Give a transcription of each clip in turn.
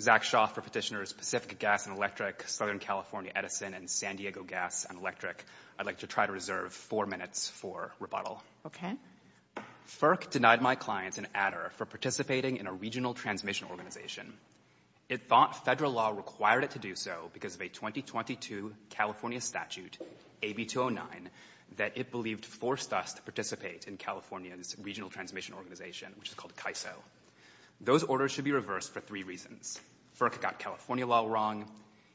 Zach Shaw for Petitioners Pacific Gas & Electric, Southern California Edison, and San Diego Gas & Electric. I'd like to try to reserve four minutes for rebuttal. FERC denied my client, an adder, for participating in a regional transmission organization. It thought federal law required it to do so because of a 2022 California statute, AB 209, that it believed forced us to participate in California's regional transmission organization, which is called CAISO. Those orders should be reversed for three reasons. FERC got California law wrong.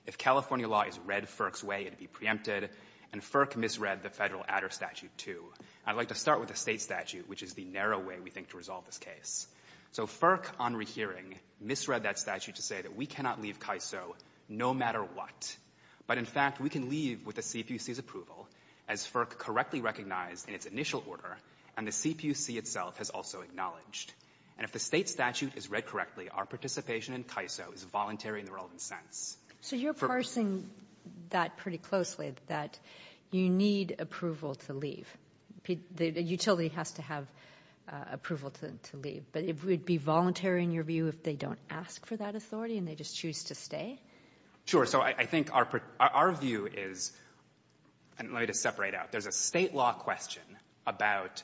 If California law is read FERC's way, it'd be preempted. And FERC misread the federal adder statute too. I'd like to start with the state statute, which is the narrow way we think to resolve this case. So FERC, on rehearing, misread that statute to say that we cannot leave CAISO no matter what. But in fact we can leave with the CPUC's approval, as FERC correctly recognized in its initial order, and the CPUC itself has also acknowledged. And if the state statute is read correctly, our participation in CAISO is voluntary in the relevant sense. So you're parsing that pretty closely, that you need approval to leave. The utility has to have approval to leave. But it would be voluntary in your view if they don't ask for that authority and they just choose to stay? Sure. So I think our view is, and let me just separate out, there's a state law question about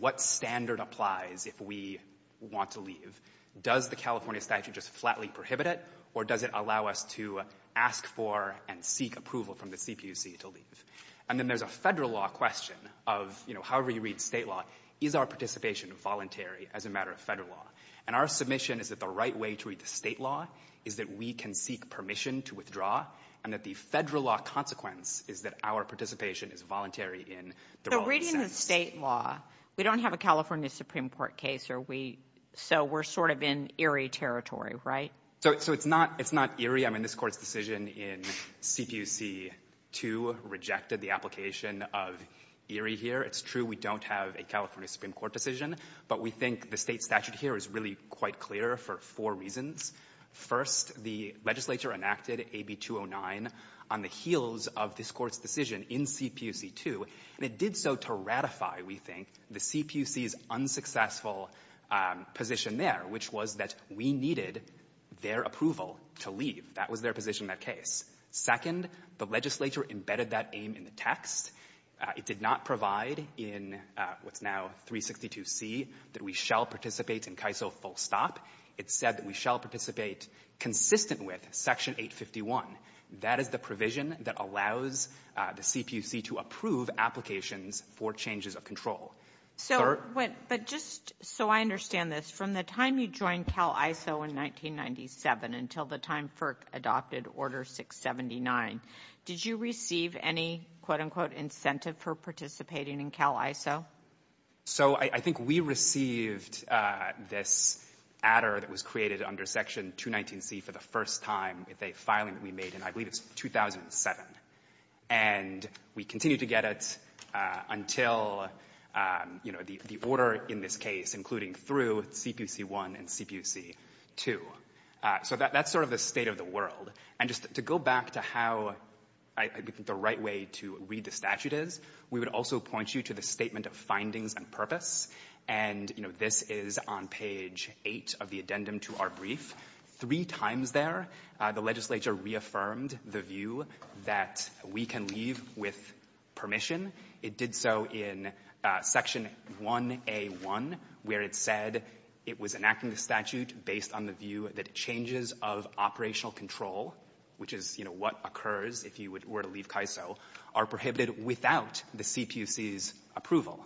what standard applies if we want to leave. Does the California statute just flatly prohibit it, or does it allow us to ask for and seek approval from the CPUC to leave? And then there's a Federal law question of, you know, however you read state law, is our participation voluntary as a matter of Federal law? And our submission is that the right way to read the state law is that we can seek permission to withdraw, and that the Federal law consequence is that our participation is voluntary in the relevant sense. So reading the state law, we don't have a California Supreme Court case, so we're sort of in eerie territory, right? So it's not eerie. I mean, this Court's decision in CPUC 2 rejected the application of eerie here. It's true we don't have a California Supreme Court decision, but we think the state statute here is really quite clear for four reasons. First, the legislature enacted AB 209 on the heels of this Court's decision in CPUC 2, and it did so to ratify, we think, the CPUC's unsuccessful position there, which was that we needed their approval to leave. That was their position in that case. Second, the legislature embedded that aim in the text. It did not provide in what's now 362C that we shall participate in CAISO full stop. It said that we shall participate consistent with Section 851. That is the provision that allows the CPUC to approve applications for changes of control. But just so I understand this, from the time you joined CAISO in 1997 until the time FERC adopted Order 679, did you receive any, quote, unquote, incentive for participating in CAISO? So I think we received this adder that was created under Section 219C for the first time. It's a filing that we made, and I believe it's 2007. And we continued to get it until, you know, the order in this case, including through CPUC 1 and CPUC 2. So that's sort of the state of the world. And just to go back to how I think the right way to read the statute is, we would also point you to the Statement of Findings and Purpose. And, you know, this is on page 8 of the addendum to our brief. Three times there, the legislature reaffirmed the view that we can leave with permission. It did so in Section 1A1, where it said it was enacting the statute based on the view that changes of operational control, which is, you know, what occurs if you were to leave CAISO, are prohibited without the CPUC's approval.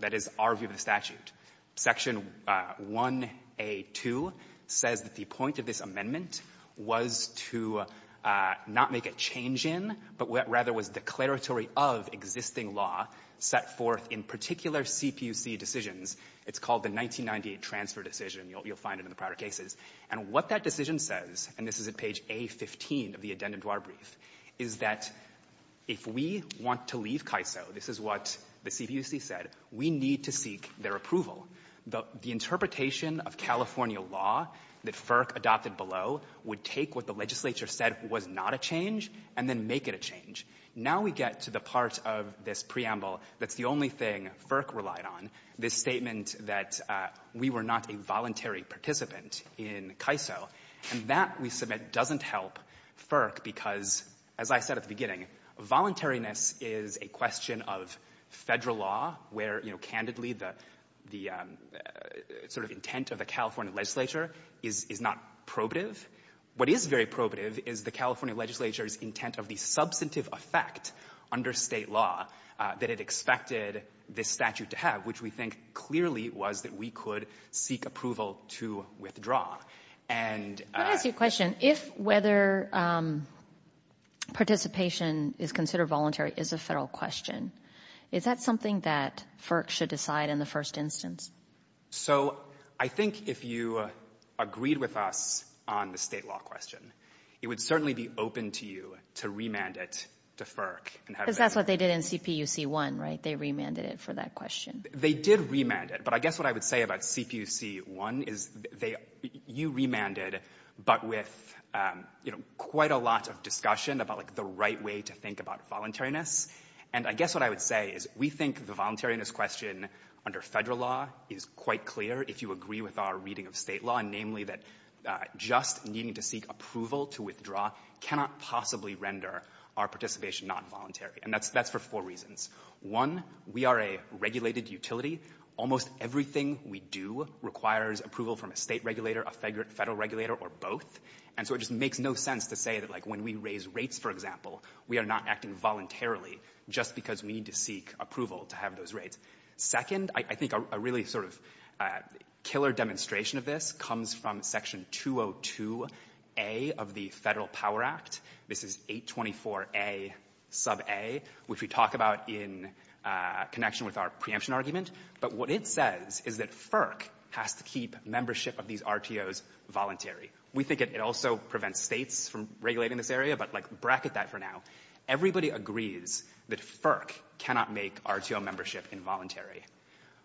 That is our view of the statute. Section 1A2 says that the point of this amendment was to not make a change in, but rather was declaratory of existing law set forth in particular CPUC decisions. It's called the 1998 transfer decision. You'll find it in the prior cases. And what that decision says, and this is at page A15 of the addendum to our brief, is that if we want to leave CAISO, this is what the CPUC said, we need to seek their approval. The interpretation of California law that FERC adopted below would take what the legislature said was not a change and then make it a change. Now we get to the part of this preamble that's the only thing FERC relied on, this statement that we were not a voluntary participant in CAISO. And that, we submit, doesn't help FERC because, as I said at the beginning, voluntariness is a question of federal law where, you know, candidly, the sort of intent of the California legislature is not probative. What is very probative is the California legislature's intent of the substantive effect under state law that it expected this statute to have, which we think clearly was that we could seek approval to withdraw. Let me ask you a question. If whether participation is considered voluntary is a federal question, is that something that FERC should decide in the first instance? So I think if you agreed with us on the state law question, it would certainly be open to you to remand it to FERC. Because that's what they did in CPUC 1, right? They remanded it for that question. They did remand it. But I guess what I would say about CPUC 1 is you remanded, but with quite a lot of discussion about the right way to think about voluntariness. And I guess what I would say is we think the voluntariness question under federal law is quite clear, if you agree with our reading of state law, namely that just needing to seek approval to withdraw cannot possibly render our participation not voluntary. And that's for four reasons. One, we are a regulated utility. Almost everything we do requires approval from a state regulator, a federal regulator, or both. And so it just makes no sense to say that, like, when we raise rates, for example, we are not acting voluntarily just because we need to seek approval to have those rates. Second, I think a really sort of killer demonstration of this comes from Section 202A of the Federal Power Act. This is 824A sub A, which we talk about in connection with our preemption argument. But what it says is that FERC has to keep membership of these RTOs voluntary. We think it also prevents states from regulating this area, but, like, bracket that for now. Everybody agrees that FERC cannot make RTO membership involuntary.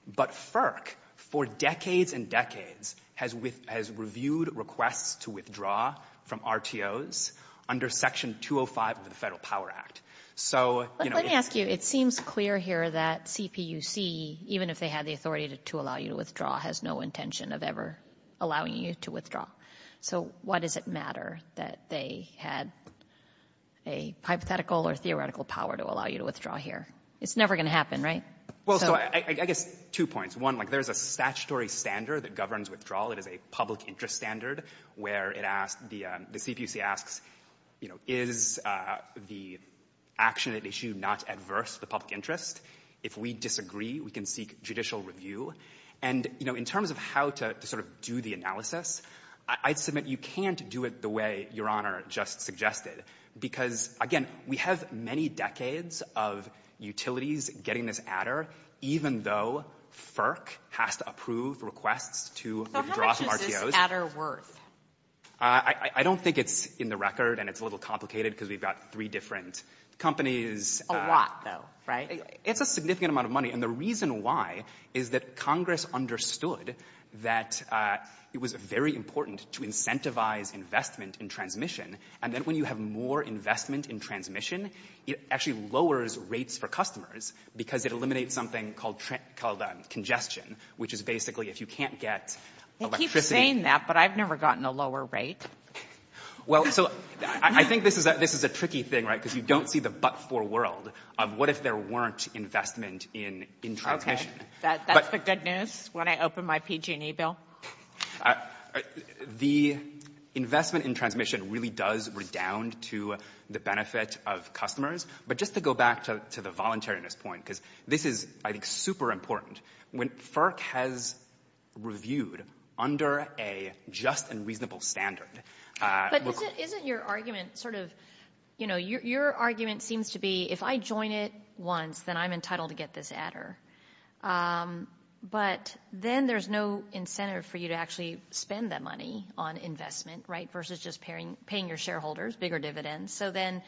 But FERC, for decades and decades, has reviewed requests to withdraw from RTOs under Section 205 of the Federal Power Act. So, you know, it's- But let me ask you, it seems clear here that CPUC, even if they had the authority to allow you to withdraw, has no intention of ever allowing you to withdraw. So why does it matter that they had a hypothetical or theoretical power to allow you to withdraw here? It's never going to happen, right? Well, so I guess two points. One, like, there's a statutory standard that governs withdrawal. It is a public interest standard where it asks, the CPUC asks, you know, is the action at issue not adverse to the public interest? If we disagree, we can seek judicial review. And, you know, in terms of how to sort of do the analysis, I'd submit you can't do it the way Your Honor just suggested, because, again, we have many decades of utilities getting this adder, even though FERC has to approve requests to withdraw from RTOs. So how much is this adder worth? I don't think it's in the record, and it's a little complicated because we've got three different companies. A lot, though, right? It's a significant amount of money. And the reason why is that Congress understood that it was very important to incentivize investment in transmission, and then when you have more investment in transmission, it actually lowers rates for customers because it eliminates something called congestion, which is basically if you can't get electricity. They keep saying that, but I've never gotten a lower rate. Well, so I think this is a tricky thing, right, because you don't see the but-for world of what if there weren't investment in transmission. Okay, that's the good news when I open my PG&E bill? The investment in transmission really does redound to the benefit of customers, but just to go back to the voluntariness point, because this is, I think, super important. When FERC has reviewed under a just and reasonable standard. But isn't your argument sort of, you know, your argument seems to be if I join it once, then I'm entitled to get this adder. But then there's no incentive for you to actually spend that money on investment, right, versus just paying your shareholders bigger dividends. So then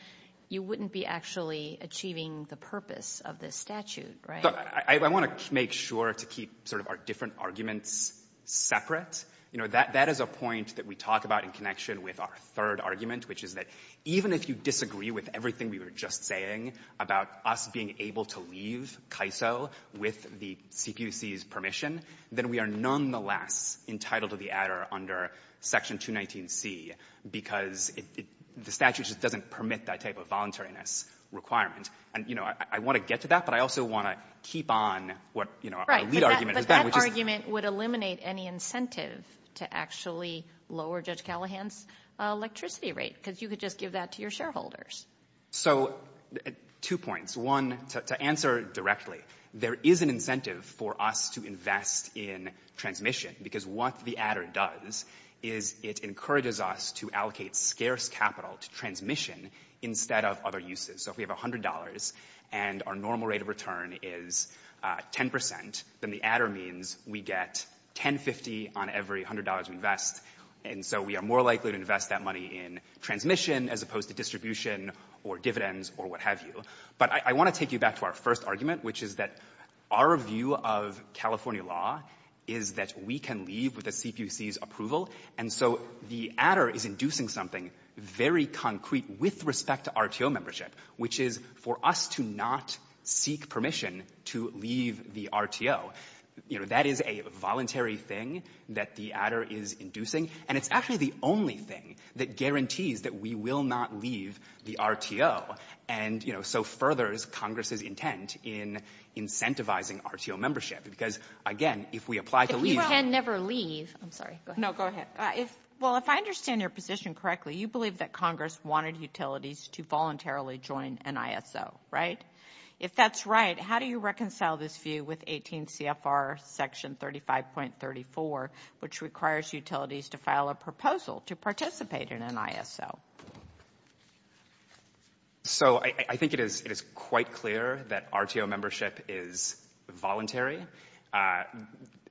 you wouldn't be actually achieving the purpose of this statute, right? I want to make sure to keep sort of our different arguments separate. You know, that is a point that we talk about in connection with our third argument, which is that even if you disagree with everything we were just saying about us being able to leave KISO with the CPUC's permission, then we are nonetheless entitled to the adder under Section 219C, because the statute just doesn't permit that type of voluntariness requirement. And, you know, I want to get to that, but I also want to keep on what, you know, our lead argument has been. That argument would eliminate any incentive to actually lower Judge Callahan's electricity rate, because you could just give that to your shareholders. So two points. One, to answer directly, there is an incentive for us to invest in transmission, because what the adder does is it encourages us to allocate scarce capital to transmission instead of other uses. So if we have $100 and our normal rate of return is 10 percent, then the adder means we get $10.50 on every $100 we invest. And so we are more likely to invest that money in transmission as opposed to distribution or dividends or what have you. But I want to take you back to our first argument, which is that our view of California law is that we can leave with the CPUC's approval. And so the adder is inducing something very concrete with respect to RTO membership, which is for us to not seek permission to leave the RTO. You know, that is a voluntary thing that the adder is inducing, and it's actually the only thing that guarantees that we will not leave the RTO and, you know, so furthers Congress's intent in incentivizing RTO membership, because, again, if we apply to leave we can never leave. I'm sorry, go ahead. No, go ahead. Well, if I understand your position correctly, you believe that Congress wanted utilities to voluntarily join NISO, right? If that's right, how do you reconcile this view with 18 CFR section 35.34, which requires utilities to file a proposal to participate in NISO? So I think it is quite clear that RTO membership is voluntary.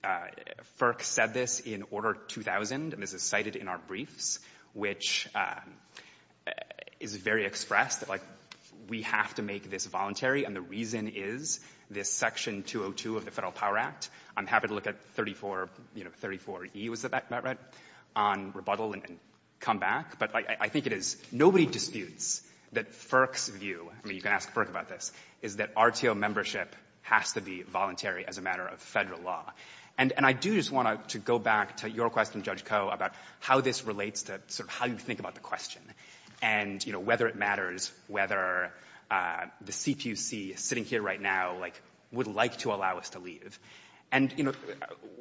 FERC said this in Order 2000, and this is cited in our briefs, which is very expressed. Like, we have to make this voluntary, and the reason is this section 202 of the Federal Power Act. I'm happy to look at 34E, was that right, on rebuttal and come back. But I think it is nobody disputes that FERC's view, I mean, you can ask FERC about this, is that RTO membership has to be voluntary as a matter of Federal law. And I do just want to go back to your question, Judge Koh, about how this relates to sort of how you think about the question, and, you know, whether it matters whether the CPUC sitting here right now, like, would like to allow us to leave. And, you know,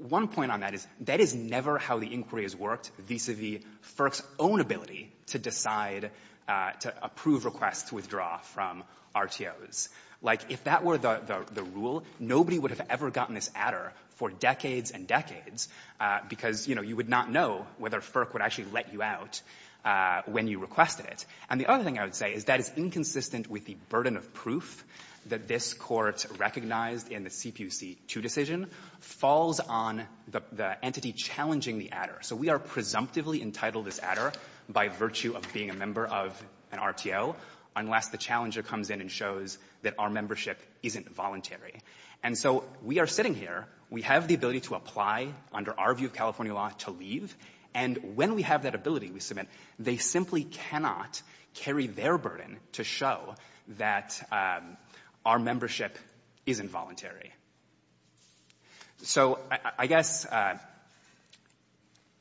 one point on that is that is never how the inquiry has worked vis-a-vis FERC's own ability to decide to approve requests to withdraw from RTOs. Like, if that were the rule, nobody would have ever gotten this adder for decades and decades because, you know, you would not know whether FERC would actually let you out when you requested it. And the other thing I would say is that is inconsistent with the burden of proof that this Court recognized in the CPUC 2 decision falls on the entity challenging the adder. So we are presumptively entitled as adder by virtue of being a member of an RTO unless the challenger comes in and shows that our membership isn't voluntary. And so we are sitting here. We have the ability to apply under our view of California law to leave. And when we have that ability, we submit, they simply cannot carry their burden to show that our membership isn't voluntary. So I guess...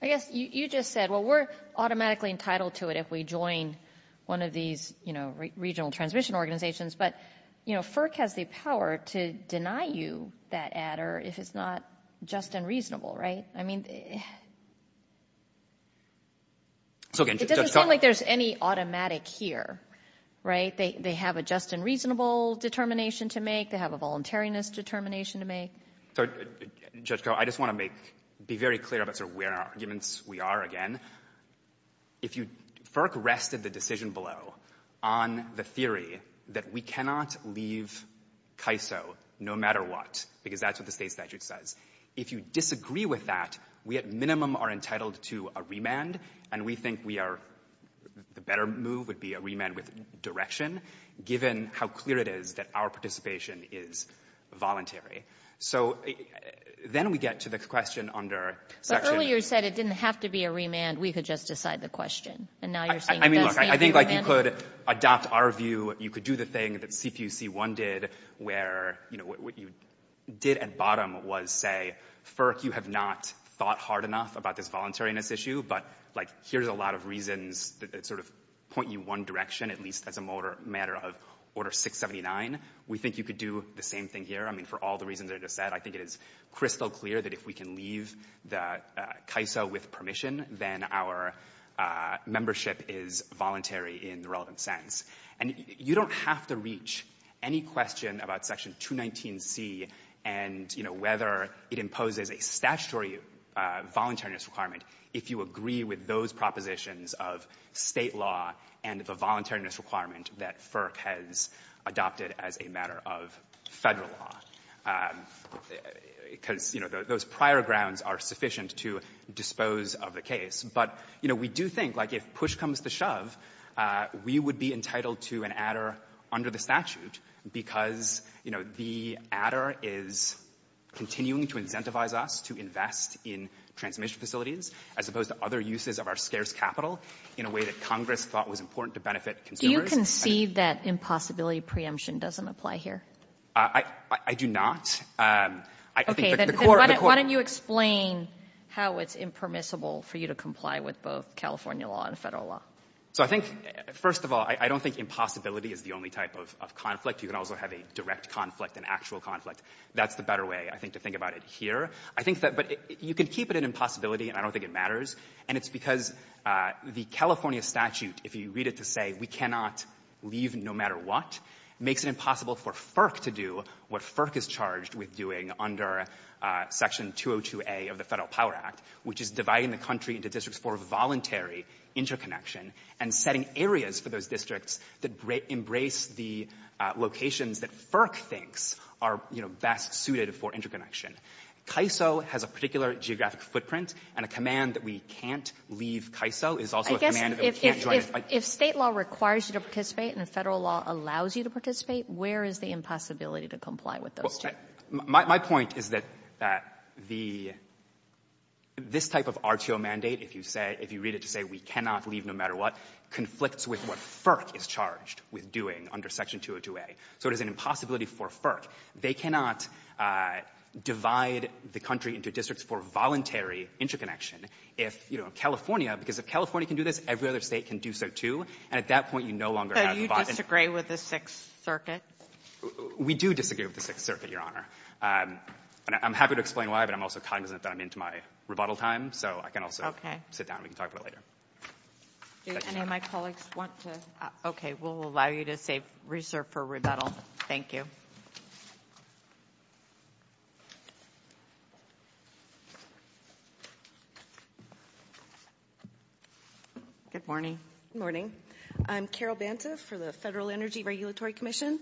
I guess you just said, well, we're automatically entitled to it if we join one of these, you know, regional transmission organizations. But, you know, FERC has the power to deny you that adder if it's not just unreasonable, right? I mean... It doesn't seem like there's any automatic here, right? They have a just and reasonable determination to make. They have a voluntariness determination to make. Judge Koh, I just want to make, be very clear about sort of where in our arguments we are again. If you... FERC rested the decision below on the theory that we cannot leave CAISO no matter what, because that's what the State statute says. If you disagree with that, we at minimum are entitled to a remand. And we think we are, the better move would be a remand with direction, given how clear it is that our participation is voluntary. So then we get to the question under section... But earlier you said it didn't have to be a remand. We could just decide the question. And now you're saying... I mean, look, I think, like, you could adopt our view. You could do the thing that CPUC1 did where, you know, what you did at bottom was say, FERC, you have not thought hard enough about this voluntariness issue, but, like, here's a lot of reasons that sort of point you one direction, at least as a matter of Order 679. We think you could do the same thing here. I mean, for all the reasons that I just said, I think it is crystal clear that if we can leave CAISO with permission, then our membership is voluntary in the relevant sense. And you don't have to reach any question about section 219C and, you know, whether it imposes a statutory voluntariness requirement if you agree with those propositions of State law and the voluntariness requirement that FERC has adopted as a matter of Federal law, because, you know, those prior grounds are sufficient to dispose of the case. But, you know, we do think, like, if push comes to shove, we would be entitled to an adder under the statute because, you know, the adder is continuing to incentivize us to invest in transmission facilities as opposed to other uses of our scarce capital in a way that Congress thought was important to benefit consumers. Do you concede that impossibility preemption doesn't apply here? I do not. Okay. Then why don't you explain how it's impermissible for you to comply with both California law and Federal law? So I think, first of all, I don't think impossibility is the only type of conflict. You can also have a direct conflict, an actual conflict. That's the better way, I think, to think about it here. I think that you can keep it an impossibility, and I don't think it matters, and it's because the California statute, if you read it to say we cannot leave no matter what, makes it impossible for FERC to do what FERC is charged with doing under Section 202a of the Federal Power Act, which is dividing the country into districts for voluntary interconnection and setting areas for those districts that embrace the locations that FERC thinks are, you know, best suited for interconnection. CAISO has a particular geographic footprint, and a command that we can't leave CAISO is also a command that we can't join it. If State law requires you to participate and Federal law allows you to participate, where is the impossibility to comply with those two? My point is that this type of RTO mandate, if you read it to say we cannot leave no matter what, conflicts with what FERC is charged with doing under Section 202a. So there's an impossibility for FERC. They cannot divide the country into districts for voluntary interconnection if, you know, California, because if California can do this, every other State can do so, too, and at that point, you no longer have the bottom line. But you disagree with the Sixth Circuit? We do disagree with the Sixth Circuit, Your Honor. I'm happy to explain why, but I'm also cognizant that I'm into my rebuttal time, so I can also sit down and we can talk about it later. Do any of my colleagues want to? Okay, we'll allow you to reserve for rebuttal. Thank you. Good morning. Good morning. I'm Carol Banta for the Federal Energy Regulatory Commission,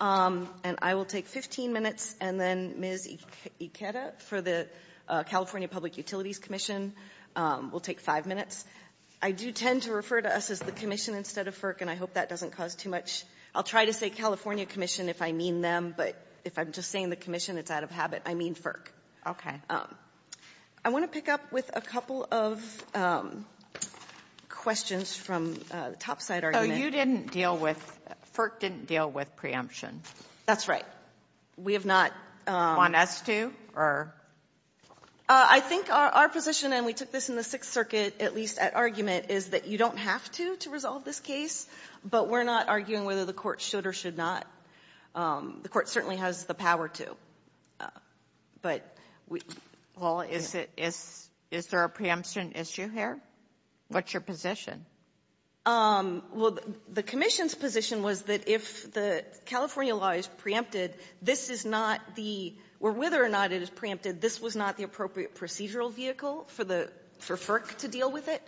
and I will take 15 minutes, and then Ms. Ikeda for the California Public Utilities Commission will take five minutes. I do tend to refer to us as the commission instead of FERC, and I hope that doesn't cause too much. I'll try to say California Commission if I mean them, but if I'm just saying the commission, it's out of habit. I mean FERC. Okay. I want to pick up with a couple of questions from the topside argument. Oh, you didn't deal with, FERC didn't deal with preemption. That's right. We have not. Want us to, or? I think our position, and we took this in the Sixth Circuit at least at argument, is that you don't have to to resolve this case, but we're not arguing whether the court should or should not. The court certainly has the power to. But we. Well, is there a preemption issue here? What's your position? Well, the commission's position was that if the California law is preempted, this is not the, or whether or not it is preempted, this was not the appropriate procedural vehicle for FERC to deal with it,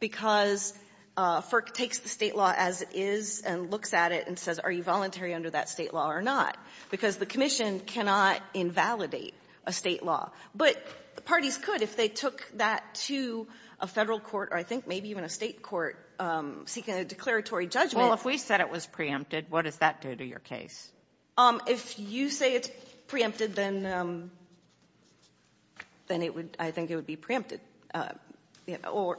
because FERC takes the state law as it is and looks at it and says, are you voluntary under that state law or not? Because the commission cannot invalidate a state law. But the parties could if they took that to a Federal court, or I think maybe even a State court, seeking a declaratory judgment. Well, if we said it was preempted, what does that do to your case? If you say it's preempted, then it would, I think it would be preempted. Or,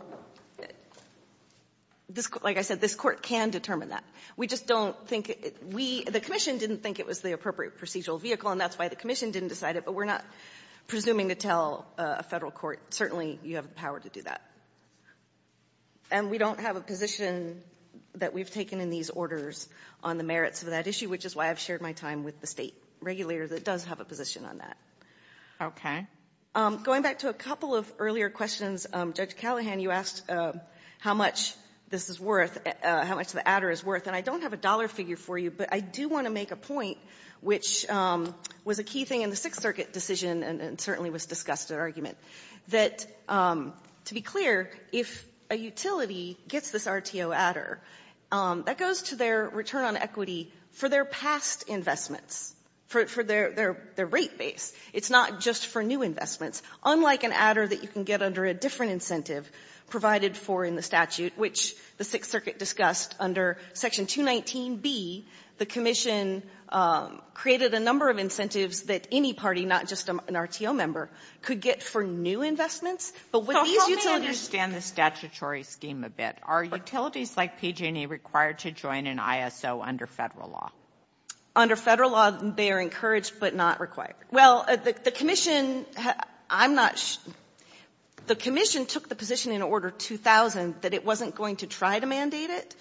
like I said, this court can determine that. We just don't think we, the commission didn't think it was the appropriate procedural vehicle, and that's why the commission didn't decide it. But we're not presuming to tell a Federal court, certainly you have the power to do that. And we don't have a position that we've taken in these orders on the merits of that issue, which is why I've shared my time with the State regulator that does have a position on that. Going back to a couple of earlier questions, Judge Callahan, you asked how much this is worth, how much the adder is worth. And I don't have a dollar figure for you, but I do want to make a point which was a key thing in the Sixth Circuit decision and certainly was discussed at argument, that, to be clear, if a utility gets this RTO adder, that goes to their return on equity for their past investments, for their rate base. It's not just for new investments, unlike an adder that you can get under a different incentive provided for in the statute, which the Sixth Circuit discussed under Section 219B. The commission created a number of incentives that any party, not just an RTO member, could get for new investments. But with these utilities ---- So help me understand the statutory scheme a bit. Are utilities like PG&E required to join an ISO under Federal law? Under Federal law, they are encouraged but not required. Well, the commission took the position in Order 2000 that it wasn't going to try to mandate it.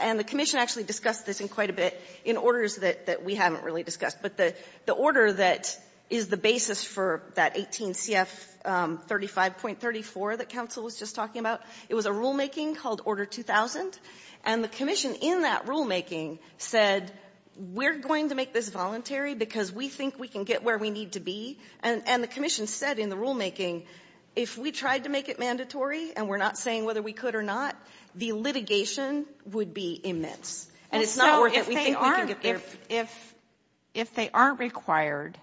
And the commission actually discussed this in quite a bit in orders that we haven't really discussed. But the order that is the basis for that 18 CF 35.34 that counsel was just talking about, it was a rulemaking called Order 2000. And the commission in that rulemaking said, we're going to make this voluntary because we think we can get where we need to be. And the commission said in the rulemaking, if we tried to make it mandatory, and we're not saying whether we could or not, the litigation would be immense. And it's not worth it. We think we can get there. If they aren't required,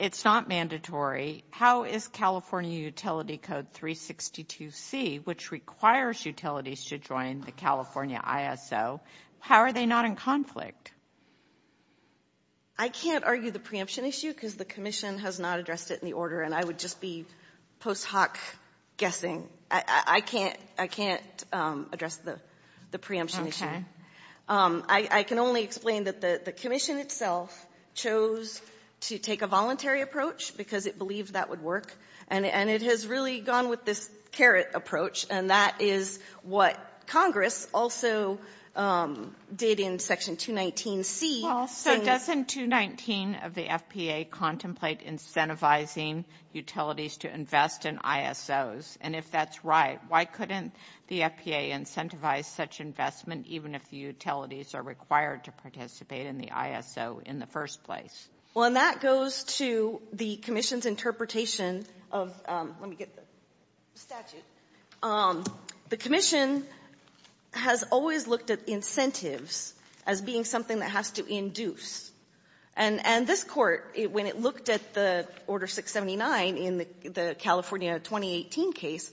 it's not mandatory, how is California Utility Code 362C, which requires utilities to join the California ISO, how are they not in conflict? I can't argue the preemption issue because the commission has not addressed it in the And I would just be post hoc guessing. I can't address the preemption issue. I can only explain that the commission itself chose to take a voluntary approach because it believed that would work. And it has really gone with this carrot approach. And that is what Congress also did in Section 219C. Well, so doesn't 219 of the FPA contemplate incentivizing utilities to invest in ISOs? And if that's right, why couldn't the FPA incentivize such investment even if the utilities are required to participate in the ISO in the first place? Well, and that goes to the commission's interpretation of, let me get the statute, the commission has always looked at incentives as being something that has to induce. And this Court, when it looked at the Order 679 in the California 2018 case,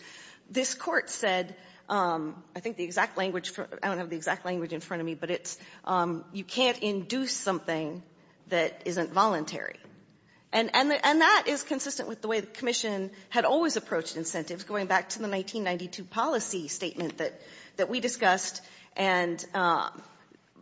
this Court said, I think the exact language, I don't have the exact language in front of me, but it's, you can't induce something that isn't voluntary. And that is consistent with the way the commission had always approached incentives, going back to the 1992 policy statement that we discussed and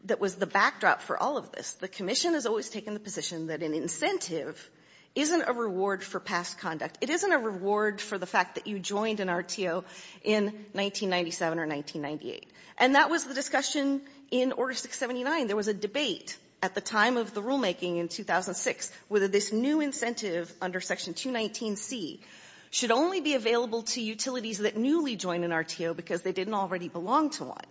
that was the backdrop for all of this. The commission has always taken the position that an incentive isn't a reward for past conduct. It isn't a reward for the fact that you joined an RTO in 1997 or 1998. And that was the discussion in Order 679. There was a debate at the time of the rulemaking in 2006 whether this new incentive under Section 219C should only be available to utilities that newly joined an RTO because they didn't already belong to one.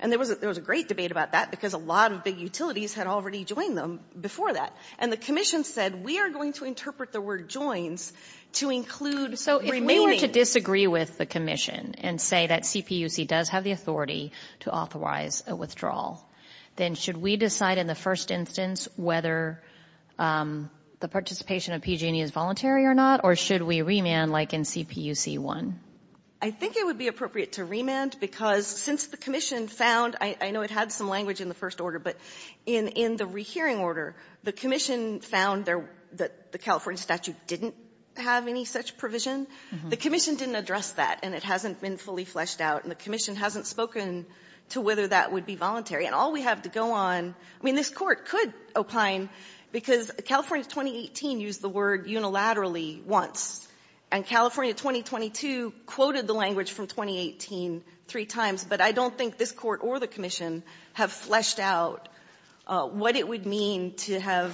And there was a great debate about that because a lot of big utilities had already joined them before that. And the commission said, we are going to interpret the word joins to include remaining to disagree with the commission and say that CPUC does have the authority to authorize a withdrawal, then should we decide in the first instance whether the participation of PG&E is voluntary or not, or should we remand like in CPUC 1? I think it would be appropriate to remand because since the commission found, I know it had some language in the first order, but in the rehearing order, the commission found that the California statute didn't have any such provision. The commission didn't address that, and it hasn't been fully fleshed out, and the commission hasn't spoken to whether that would be voluntary. And all we have to go on — I mean, this Court could opine because California 2018 used the word unilaterally once, and California 2022 quoted the language from 2018 three times. But I don't think this Court or the commission have fleshed out what it would mean to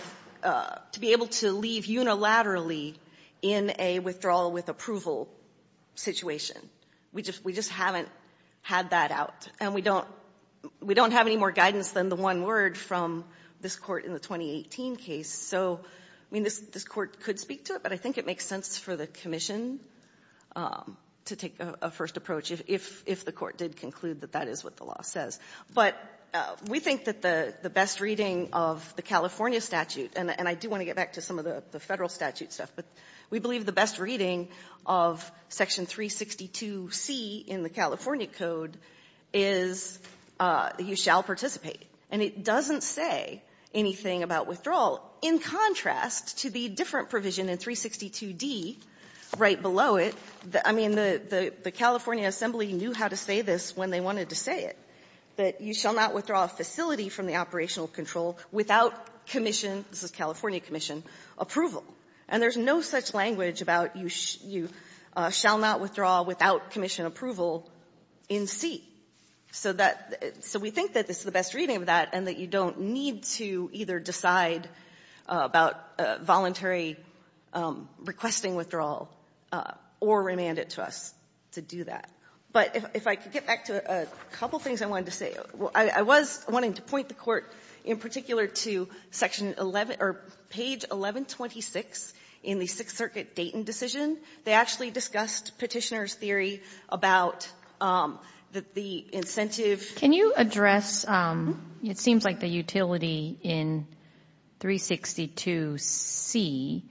be able to leave unilaterally in a withdrawal with approval situation. We just haven't had that out, and we don't have any more guidance than the one word from this Court in the 2018 case. So, I mean, this Court could speak to it, but I think it makes sense for the commission to take a first approach if the Court did conclude that that is what the law says. But we think that the best reading of the California statute, and I do want to get back to some of the Federal statute stuff, but we believe the best reading of section 362C in the California code is that you shall participate. And it doesn't say anything about withdrawal. In contrast to the different provision in 362D, right below it, I mean, the California assembly knew how to say this when they wanted to say it, that you shall not withdraw a facility from the operational control without commission, this is California commission, approval. And there's no such language about you shall not withdraw without commission approval in C. So we think that this is the best reading of that and that you don't need to either decide about voluntary requesting withdrawal or remand it to us to do that. But if I could get back to a couple of things I wanted to say. I was wanting to point the Court in particular to section 11 or page 1126 in the Sixth Circuit Dayton decision. They actually discussed Petitioner's theory about the incentive. Can you address, it seems like the utility in 362C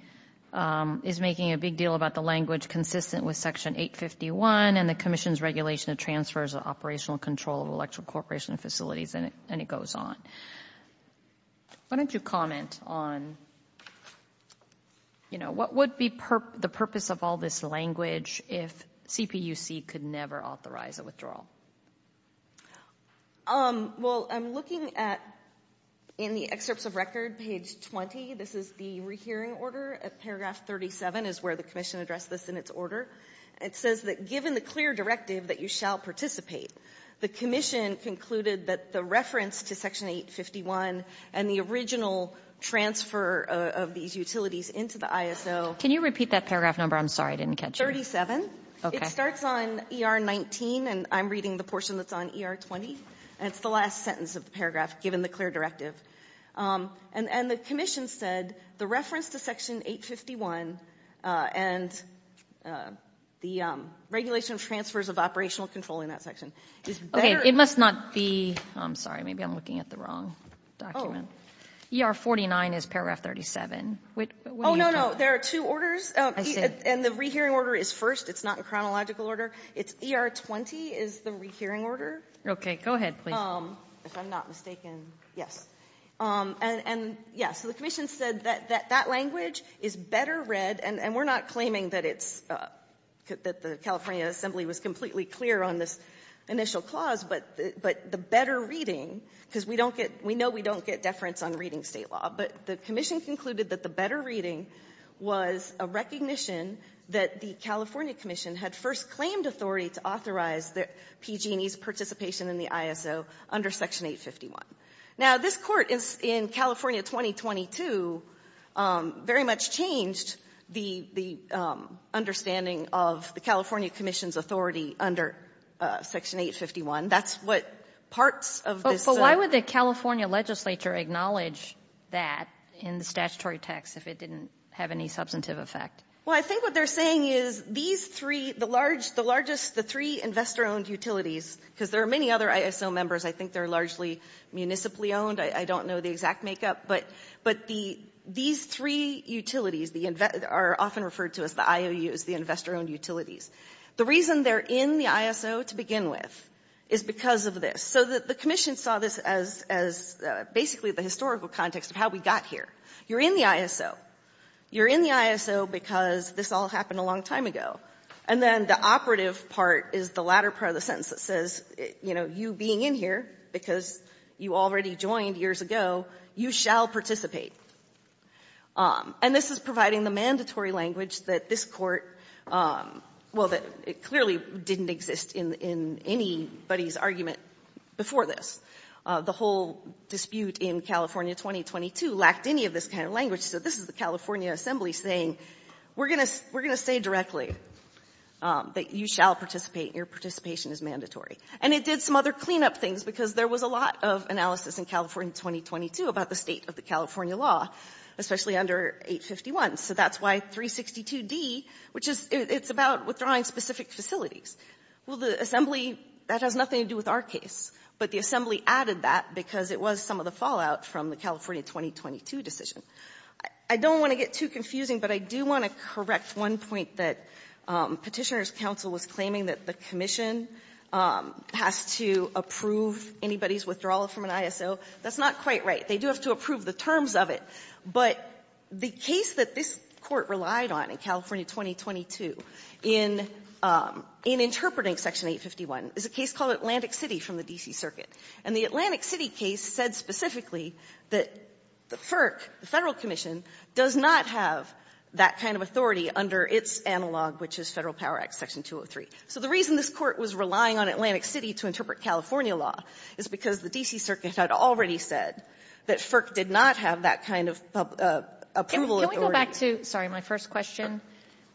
is making a big deal about the language consistent with section 851 and the commission's regulation of transfers of operational control of electrical corporation facilities and it goes on. Why don't you comment on, you know, what would be the purpose of all this language if CPUC could never authorize a withdrawal? Well, I'm looking at, in the excerpts of record, page 20, this is the rehearing order at paragraph 37 is where the commission addressed this in its order. It says that given the clear directive that you shall participate, the commission concluded that the reference to section 851 and the original transfer of these utilities into the ISO. Can you repeat that paragraph number? I'm sorry, I didn't catch it. It's 37. Okay. It starts on ER 19 and I'm reading the portion that's on ER 20 and it's the last sentence of the paragraph given the clear directive. And the commission said the reference to section 851 and the regulation of transfers of operational control in that section. Okay. It must not be, I'm sorry, maybe I'm looking at the wrong document. ER 49 is paragraph 37. Oh, no, no. There are two orders. I see. And the rehearing order is first. It's not in chronological order. It's ER 20 is the rehearing order. Go ahead, please. If I'm not mistaken. Yes. And, yeah, so the commission said that that language is better read and we're not claiming that it's, that the California assembly was completely clear on this initial clause, but the better reading, because we don't get, we know we don't get deference on reading state law, but the commission concluded that the better reading was a recognition that the California commission had first claimed authority to authorize the PG&E's participation in the ISO under section 851. Now, this Court in California 2022 very much changed the understanding of the California commission's authority under section 851. That's what parts of this. But why would the California legislature acknowledge that in the statutory text if it didn't have any substantive effect? Well, I think what they're saying is these three, the largest, the three investor owned utilities, because there are many other ISO members. I think they're largely municipally owned. I don't know the exact makeup, but these three utilities are often referred to as the IOUs, the investor owned utilities. The reason they're in the ISO to begin with is because of this. So the commission saw this as basically the historical context of how we got here. You're in the ISO. You're in the ISO because this all happened a long time ago. And then the operative part is the latter part of the sentence that says, you know, you being in here because you already joined years ago, you shall participate. And this is providing the mandatory language that this Court, well, that it clearly didn't exist in anybody's argument before this. The whole dispute in California 2022 lacked any of this kind of language. So this is the California Assembly saying, we're going to say directly that you shall participate and your participation is mandatory. And it did some other cleanup things because there was a lot of analysis in California 2022 about the state of the California law, especially under 851. So that's why 362D, which is, it's about withdrawing specific facilities. Well, the Assembly, that has nothing to do with our case, but the Assembly added that because it was some of the fallout from the California 2022 decision. I don't want to get too confusing, but I do want to correct one point that Petitioner's counsel was claiming that the commission has to approve anybody's withdrawal from an ISO. That's not quite right. They do have to approve the terms of it. But the case that this Court relied on in California 2022 in interpreting Section 851 is a case called Atlantic City from the D.C. Circuit. And the Atlantic City case said specifically that FERC, the Federal Commission, does not have that kind of authority under its analog, which is Federal Power Act Section 203. So the reason this Court was relying on Atlantic City to interpret California law is because the D.C. Circuit had already said that FERC did not have that kind of approval authority. Can we go back to, sorry, my first question.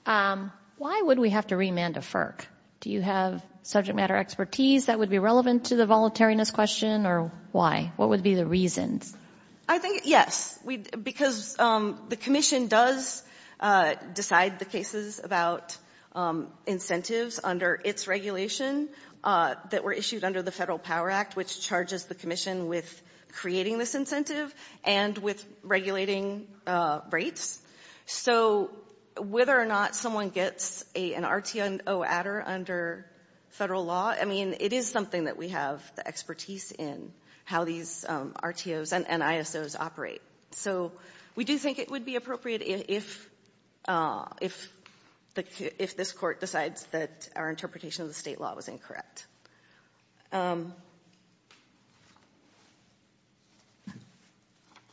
Why would we have to remand a FERC? Do you have subject matter expertise that would be relevant to the voluntariness question, or why? What would be the reasons? I think, yes, because the commission does decide the cases about incentives under its regulation that were issued under the Federal Power Act, which charges the commission with creating this incentive and with regulating rates. So whether or not someone gets an RTO adder under federal law, I mean, it is something that we have the expertise in, how these RTOs and ISOs operate. So we do think it would be appropriate if this Court decides that our interpretation of the State law was incorrect.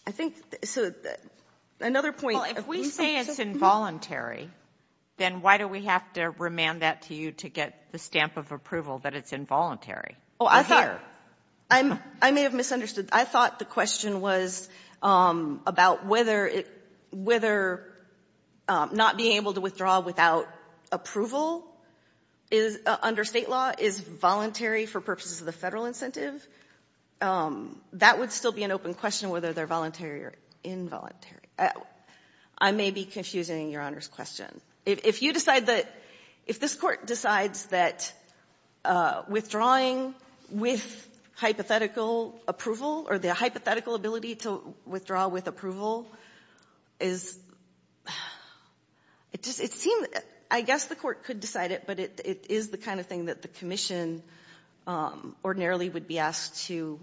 I think, so another point. Well, if we say it's involuntary, then why do we have to remand that to you to get the stamp of approval that it's involuntary? Oh, I thought, I may have misunderstood. I thought the question was about whether not being able to withdraw without approval under State law is voluntary for purposes of the Federal incentive. That would still be an open question, whether they're voluntary or involuntary. I may be confusing Your Honor's question. If you decide that, if this Court decides that withdrawing with hypothetical approval or the hypothetical ability to withdraw with approval is, it seems, I guess the Court could decide it, but it is the kind of thing that the commission ordinarily would be asked to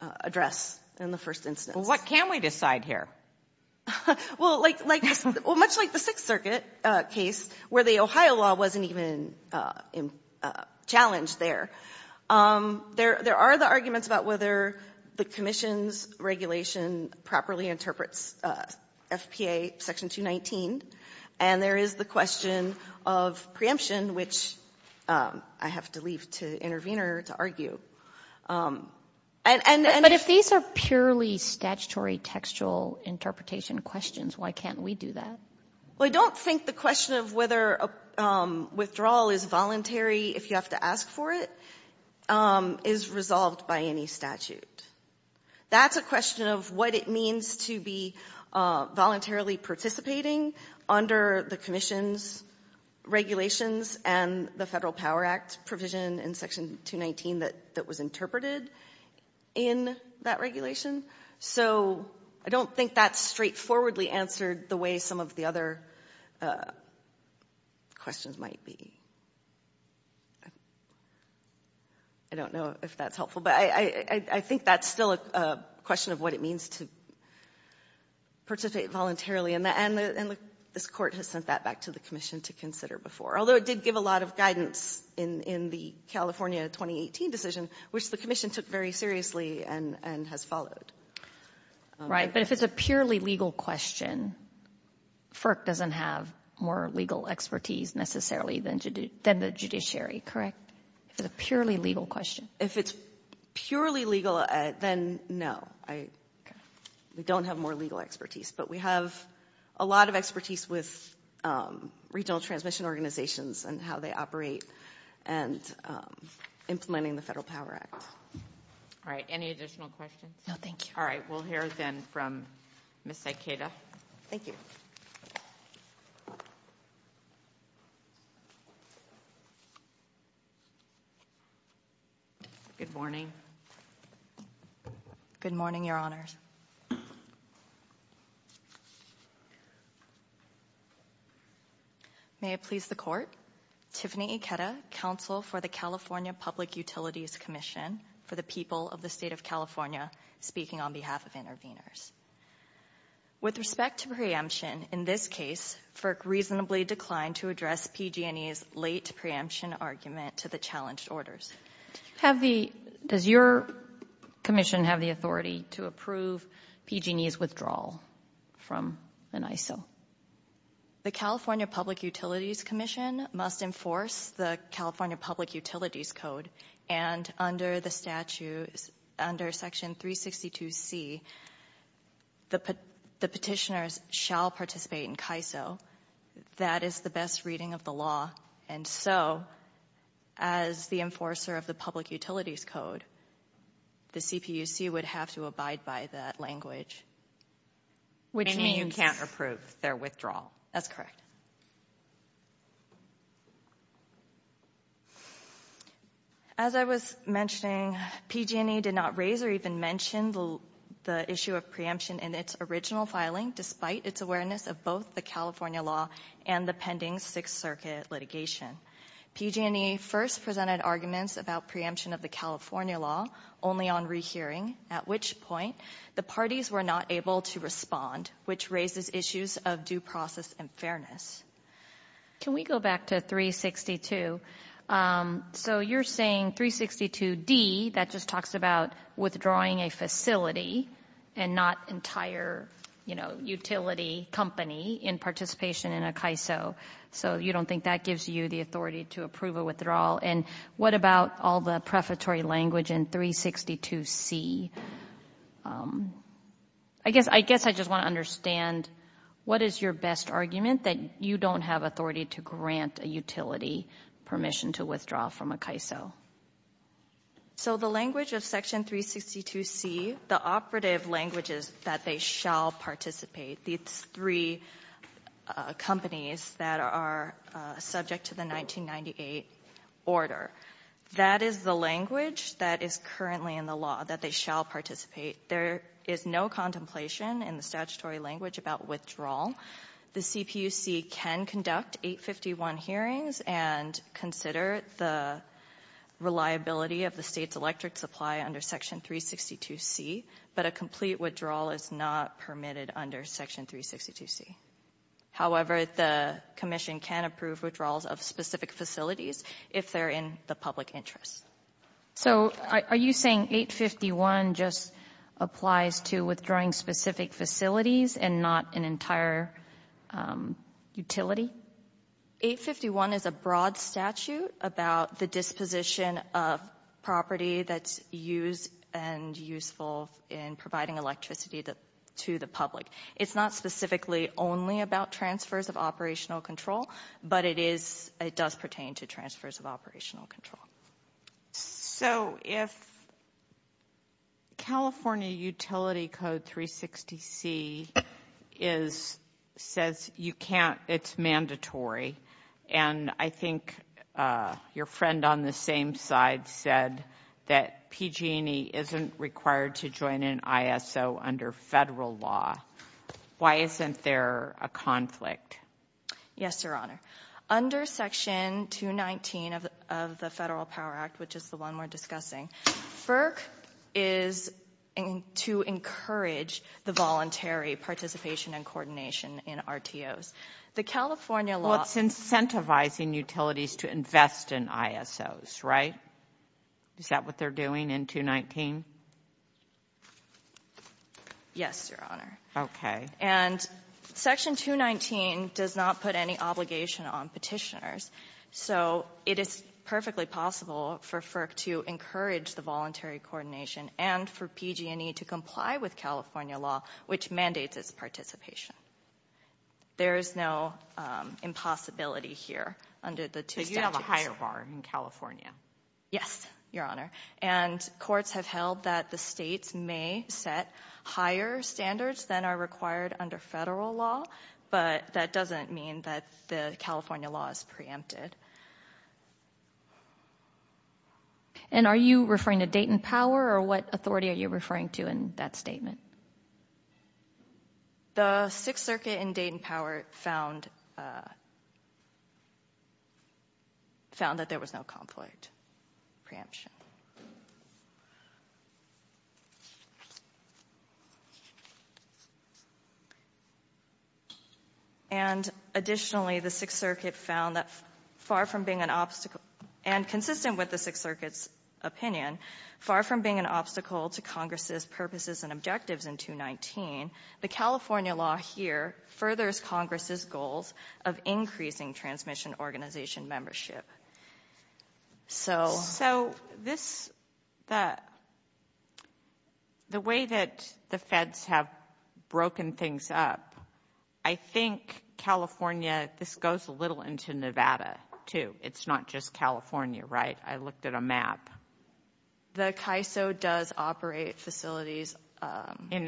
address in the first instance. Well, what can we decide here? Well, like, well, much like the Sixth Circuit case where the Ohio law wasn't even challenged there, there are the arguments about whether the commission's regulation properly interprets FPA Section 219, and there is the question of preemption, which I have to leave to the intervener to argue. But if these are purely statutory textual interpretation questions, why can't we do that? Well, I don't think the question of whether withdrawal is voluntary, if you have to ask for it, is resolved by any statute. That's a question of what it means to be voluntarily participating under the commission's regulations and the Federal Power Act provision in Section 219 that was interpreted in that regulation. So I don't think that's straightforwardly answered the way some of the other questions might be. I don't know if that's helpful, but I think that's still a question of what it means to participate voluntarily, and this Court has sent that back to the commission to consider before. Although it did give a lot of guidance in the California 2018 decision, which the commission took very seriously and has followed. Right, but if it's a purely legal question, FERC doesn't have more legal expertise necessarily than the judiciary, correct? If it's a purely legal question? If it's purely legal, then no. We don't have more legal expertise. But we have a lot of expertise with regional transmission organizations and how they operate and implementing the Federal Power Act. All right, any additional questions? No, thank you. All right, we'll hear then from Ms. Sycada. Thank you. Good morning. Good morning, Your Honors. May it please the Court, Tiffany Ikeda, Counsel for the California Public Utilities Commission for the people of the State of California, speaking on behalf of interveners. With respect to preemption, in this case, FERC reasonably declined to address PG&E's late preemption argument to the challenged orders. Does your commission have the authority to approve PG&E's withdrawal from an ISO? The California Public Utilities Commission must enforce the California Public Utilities Code, and under the statute, under Section 362C, the petitioners shall participate in As I was mentioning, PG&E did not raise or even mention the issue of preemption in its original filing, despite its awareness of both the California law and the pending Sixth Circuit litigation. PG&E first presented arguments about preemption of the California law only on rehearing, at which point the parties were not able to respond, which raises issues of due process and fairness. Can we go back to 362? So you're saying 362D, that just talks about withdrawing a facility and not entire, you know, utility company in participation in a CAISO. So you don't think that gives you the authority to approve a withdrawal? And what about all the prefatory language in 362C? I guess I just want to understand, what is your best argument, that you don't have authority to grant a utility permission to withdraw from a CAISO? So the language of Section 362C, the operative language is that they shall participate. These three companies that are subject to the 1998 order, that is the language that is currently in the law, that they shall participate. There is no contemplation in the statutory language about withdrawal. The CPUC can conduct 851 hearings and consider the reliability of the State's electric supply under Section 362C, but a complete withdrawal is not permitted under Section 362C. However, the Commission can approve withdrawals of specific facilities if they're in the public interest. So are you saying 851 just applies to withdrawing specific facilities and not an entire utility? 851 is a broad statute about the disposition of property that's used and useful in providing electricity to the public. It's not specifically only about transfers of operational control, but it does pertain to transfers of operational control. So if California Utility Code 360C says it's mandatory, and I think your friend on the same side said that PG&E isn't required to join an ISO under Federal law, why isn't there a conflict? Yes, Your Honor. Under Section 219 of the Federal Power Act, which is the one we're discussing, FERC is to encourage the voluntary participation and coordination in RTOs. The California law... Well, it's incentivizing utilities to invest in ISOs, right? Is that what they're doing in 219? Yes, Your Honor. Okay. And Section 219 does not put any obligation on Petitioners, so it is perfectly possible for FERC to encourage the voluntary coordination and for PG&E to comply with California law, which mandates its participation. There is no impossibility here under the two statutes. But you have a higher bar in California. Yes, Your Honor. And courts have held that the states may set higher standards than are required under Federal law, but that doesn't mean that the California law is preempted. And are you referring to Dayton Power, or what authority are you referring to in that statement? The Sixth Circuit in Dayton Power found that there was no conflict preemption. And additionally, the Sixth Circuit found that far from being an obstacle, and consistent with the Sixth Circuit's opinion, far from being an obstacle to Congress' purposes and objectives in 219, the California law here furthers Congress' goals of increasing transmission organization membership. So this, the way that the feds have broken things up, I think California, this goes a little into Nevada, too. It's not just California, right? I looked at a map. The CAISO does operate facilities. It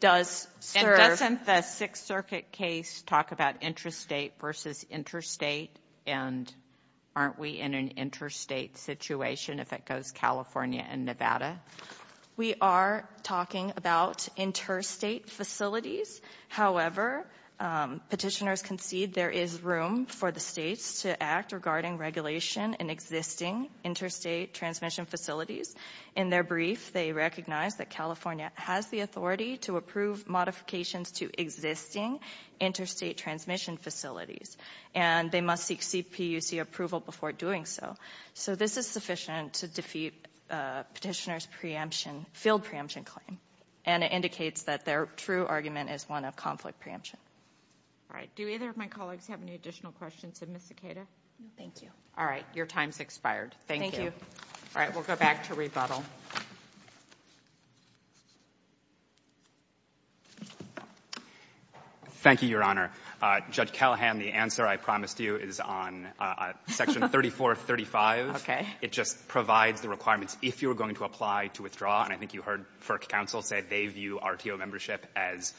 does serve. And doesn't the Sixth Circuit case talk about interstate versus interstate? And aren't we in an interstate situation if it goes California and Nevada? We are talking about interstate facilities. However, petitioners concede there is room for the states to act regarding regulation in existing interstate transmission facilities. In their brief, they recognize that California has the authority to approve modifications to existing interstate transmission facilities. And they must seek CPUC approval before doing so. So this is sufficient to defeat petitioners' preemption, field preemption claim. And it indicates that their true argument is one of conflict preemption. All right. Do either of my colleagues have any additional questions of Ms. Siqueira? No, thank you. All right. Your time's expired. Thank you. All right. We'll go back to rebuttal. Thank you, Your Honor. Judge Callahan, the answer I promised you is on Section 3435. Okay. It just provides the requirements if you are going to apply to withdraw. And I think you heard FERC counsel say they view RTO membership as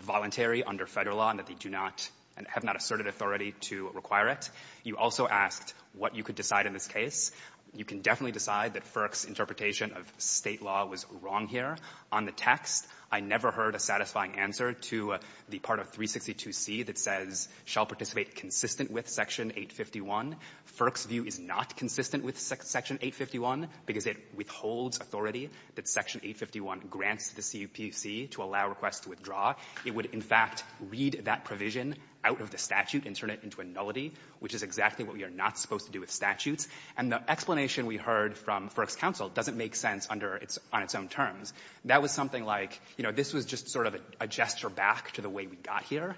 voluntary under Federal law and that they do not and have not asserted authority to require it. You also asked what you could decide in this case. You can definitely decide that FERC's interpretation of State law was wrong here. On the text, I never heard a satisfying answer to the part of 362C that says, shall participate consistent with Section 851. FERC's view is not consistent with Section 851 because it withholds authority that Section 851 grants the CPUC to allow requests to withdraw. It would, in fact, read that provision out of the statute and turn it into a nullity, which is exactly what we are not supposed to do with statutes. And the explanation we heard from FERC's counsel doesn't make sense on its own terms. That was something like, you know, this was just sort of a gesture back to the way we got here.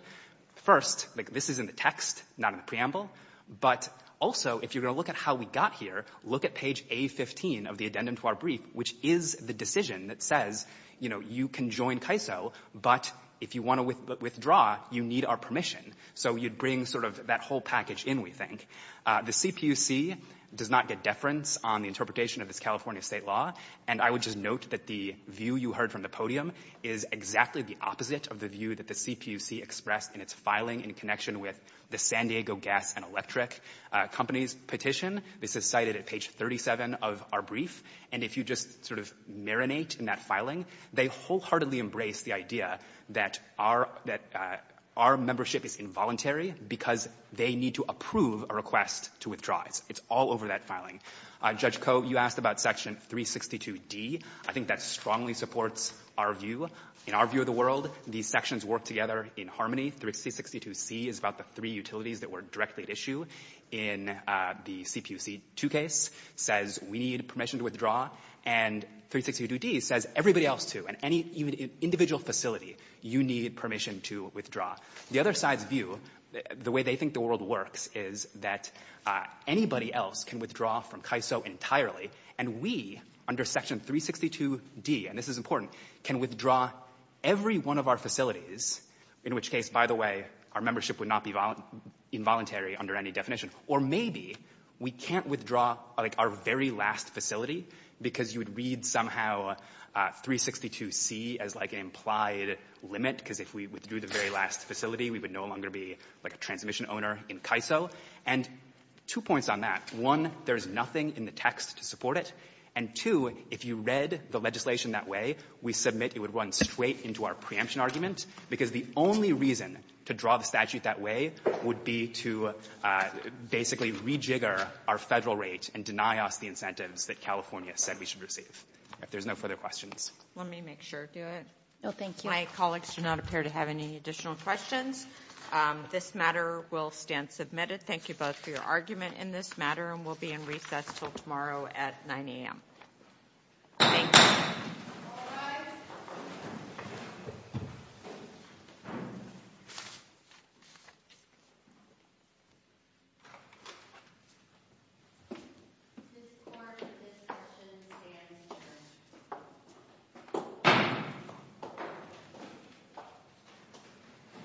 First, like, this is in the text, not in the preamble. But also, if you're going to look at how we got here, look at page A15 of the addendum to our brief, which is the decision that says, you know, you can join CAISO, but if you want to withdraw, you need our permission. So you'd bring sort of that whole package in, we think. The CPUC does not get deference on the interpretation of this California State law. And I would just note that the view you heard from the podium is exactly the opposite of the view that the CPUC expressed in its filing in connection with the San Diego Gas and Electric Company's petition. This is cited at page 37 of our brief. And if you just sort of marinate in that filing, they wholeheartedly embrace the idea that our membership is involuntary because they need to approve a request to withdraw. It's all over that filing. Judge Koh, you asked about Section 362d. I think that strongly supports our view. In our view of the world, these sections work together in harmony. Section 362c is about the three utilities that were directly at issue in the CPUC2 case, says we need permission to withdraw. And 362d says everybody else too, and any individual facility, you need permission to withdraw. The other side's view, the way they think the world works, is that anybody else can withdraw from CAISO entirely, and we, under Section 362d, and this is important, can withdraw every one of our facilities, in which case, by the way, our membership would not be involuntary under any definition. Or maybe we can't withdraw, like, our very last facility because you would read somehow 362c as, like, an implied limit, because if we withdrew the very last facility, we would no longer be, like, a transmission owner in CAISO. And two points on that. One, there's nothing in the text to support it. And two, if you read the legislation that way, we submit it would run straight into our preemption argument, because the only reason to draw the statute that way would be to basically rejigger our Federal rate and deny us the incentives that California said we should receive. If there's no further questions. Let me make sure I do it. No, thank you. My colleagues do not appear to have any additional questions. This matter will stand submitted. Thank you both for your argument in this matter. And we'll be in recess until tomorrow at 9 a.m. Thank you.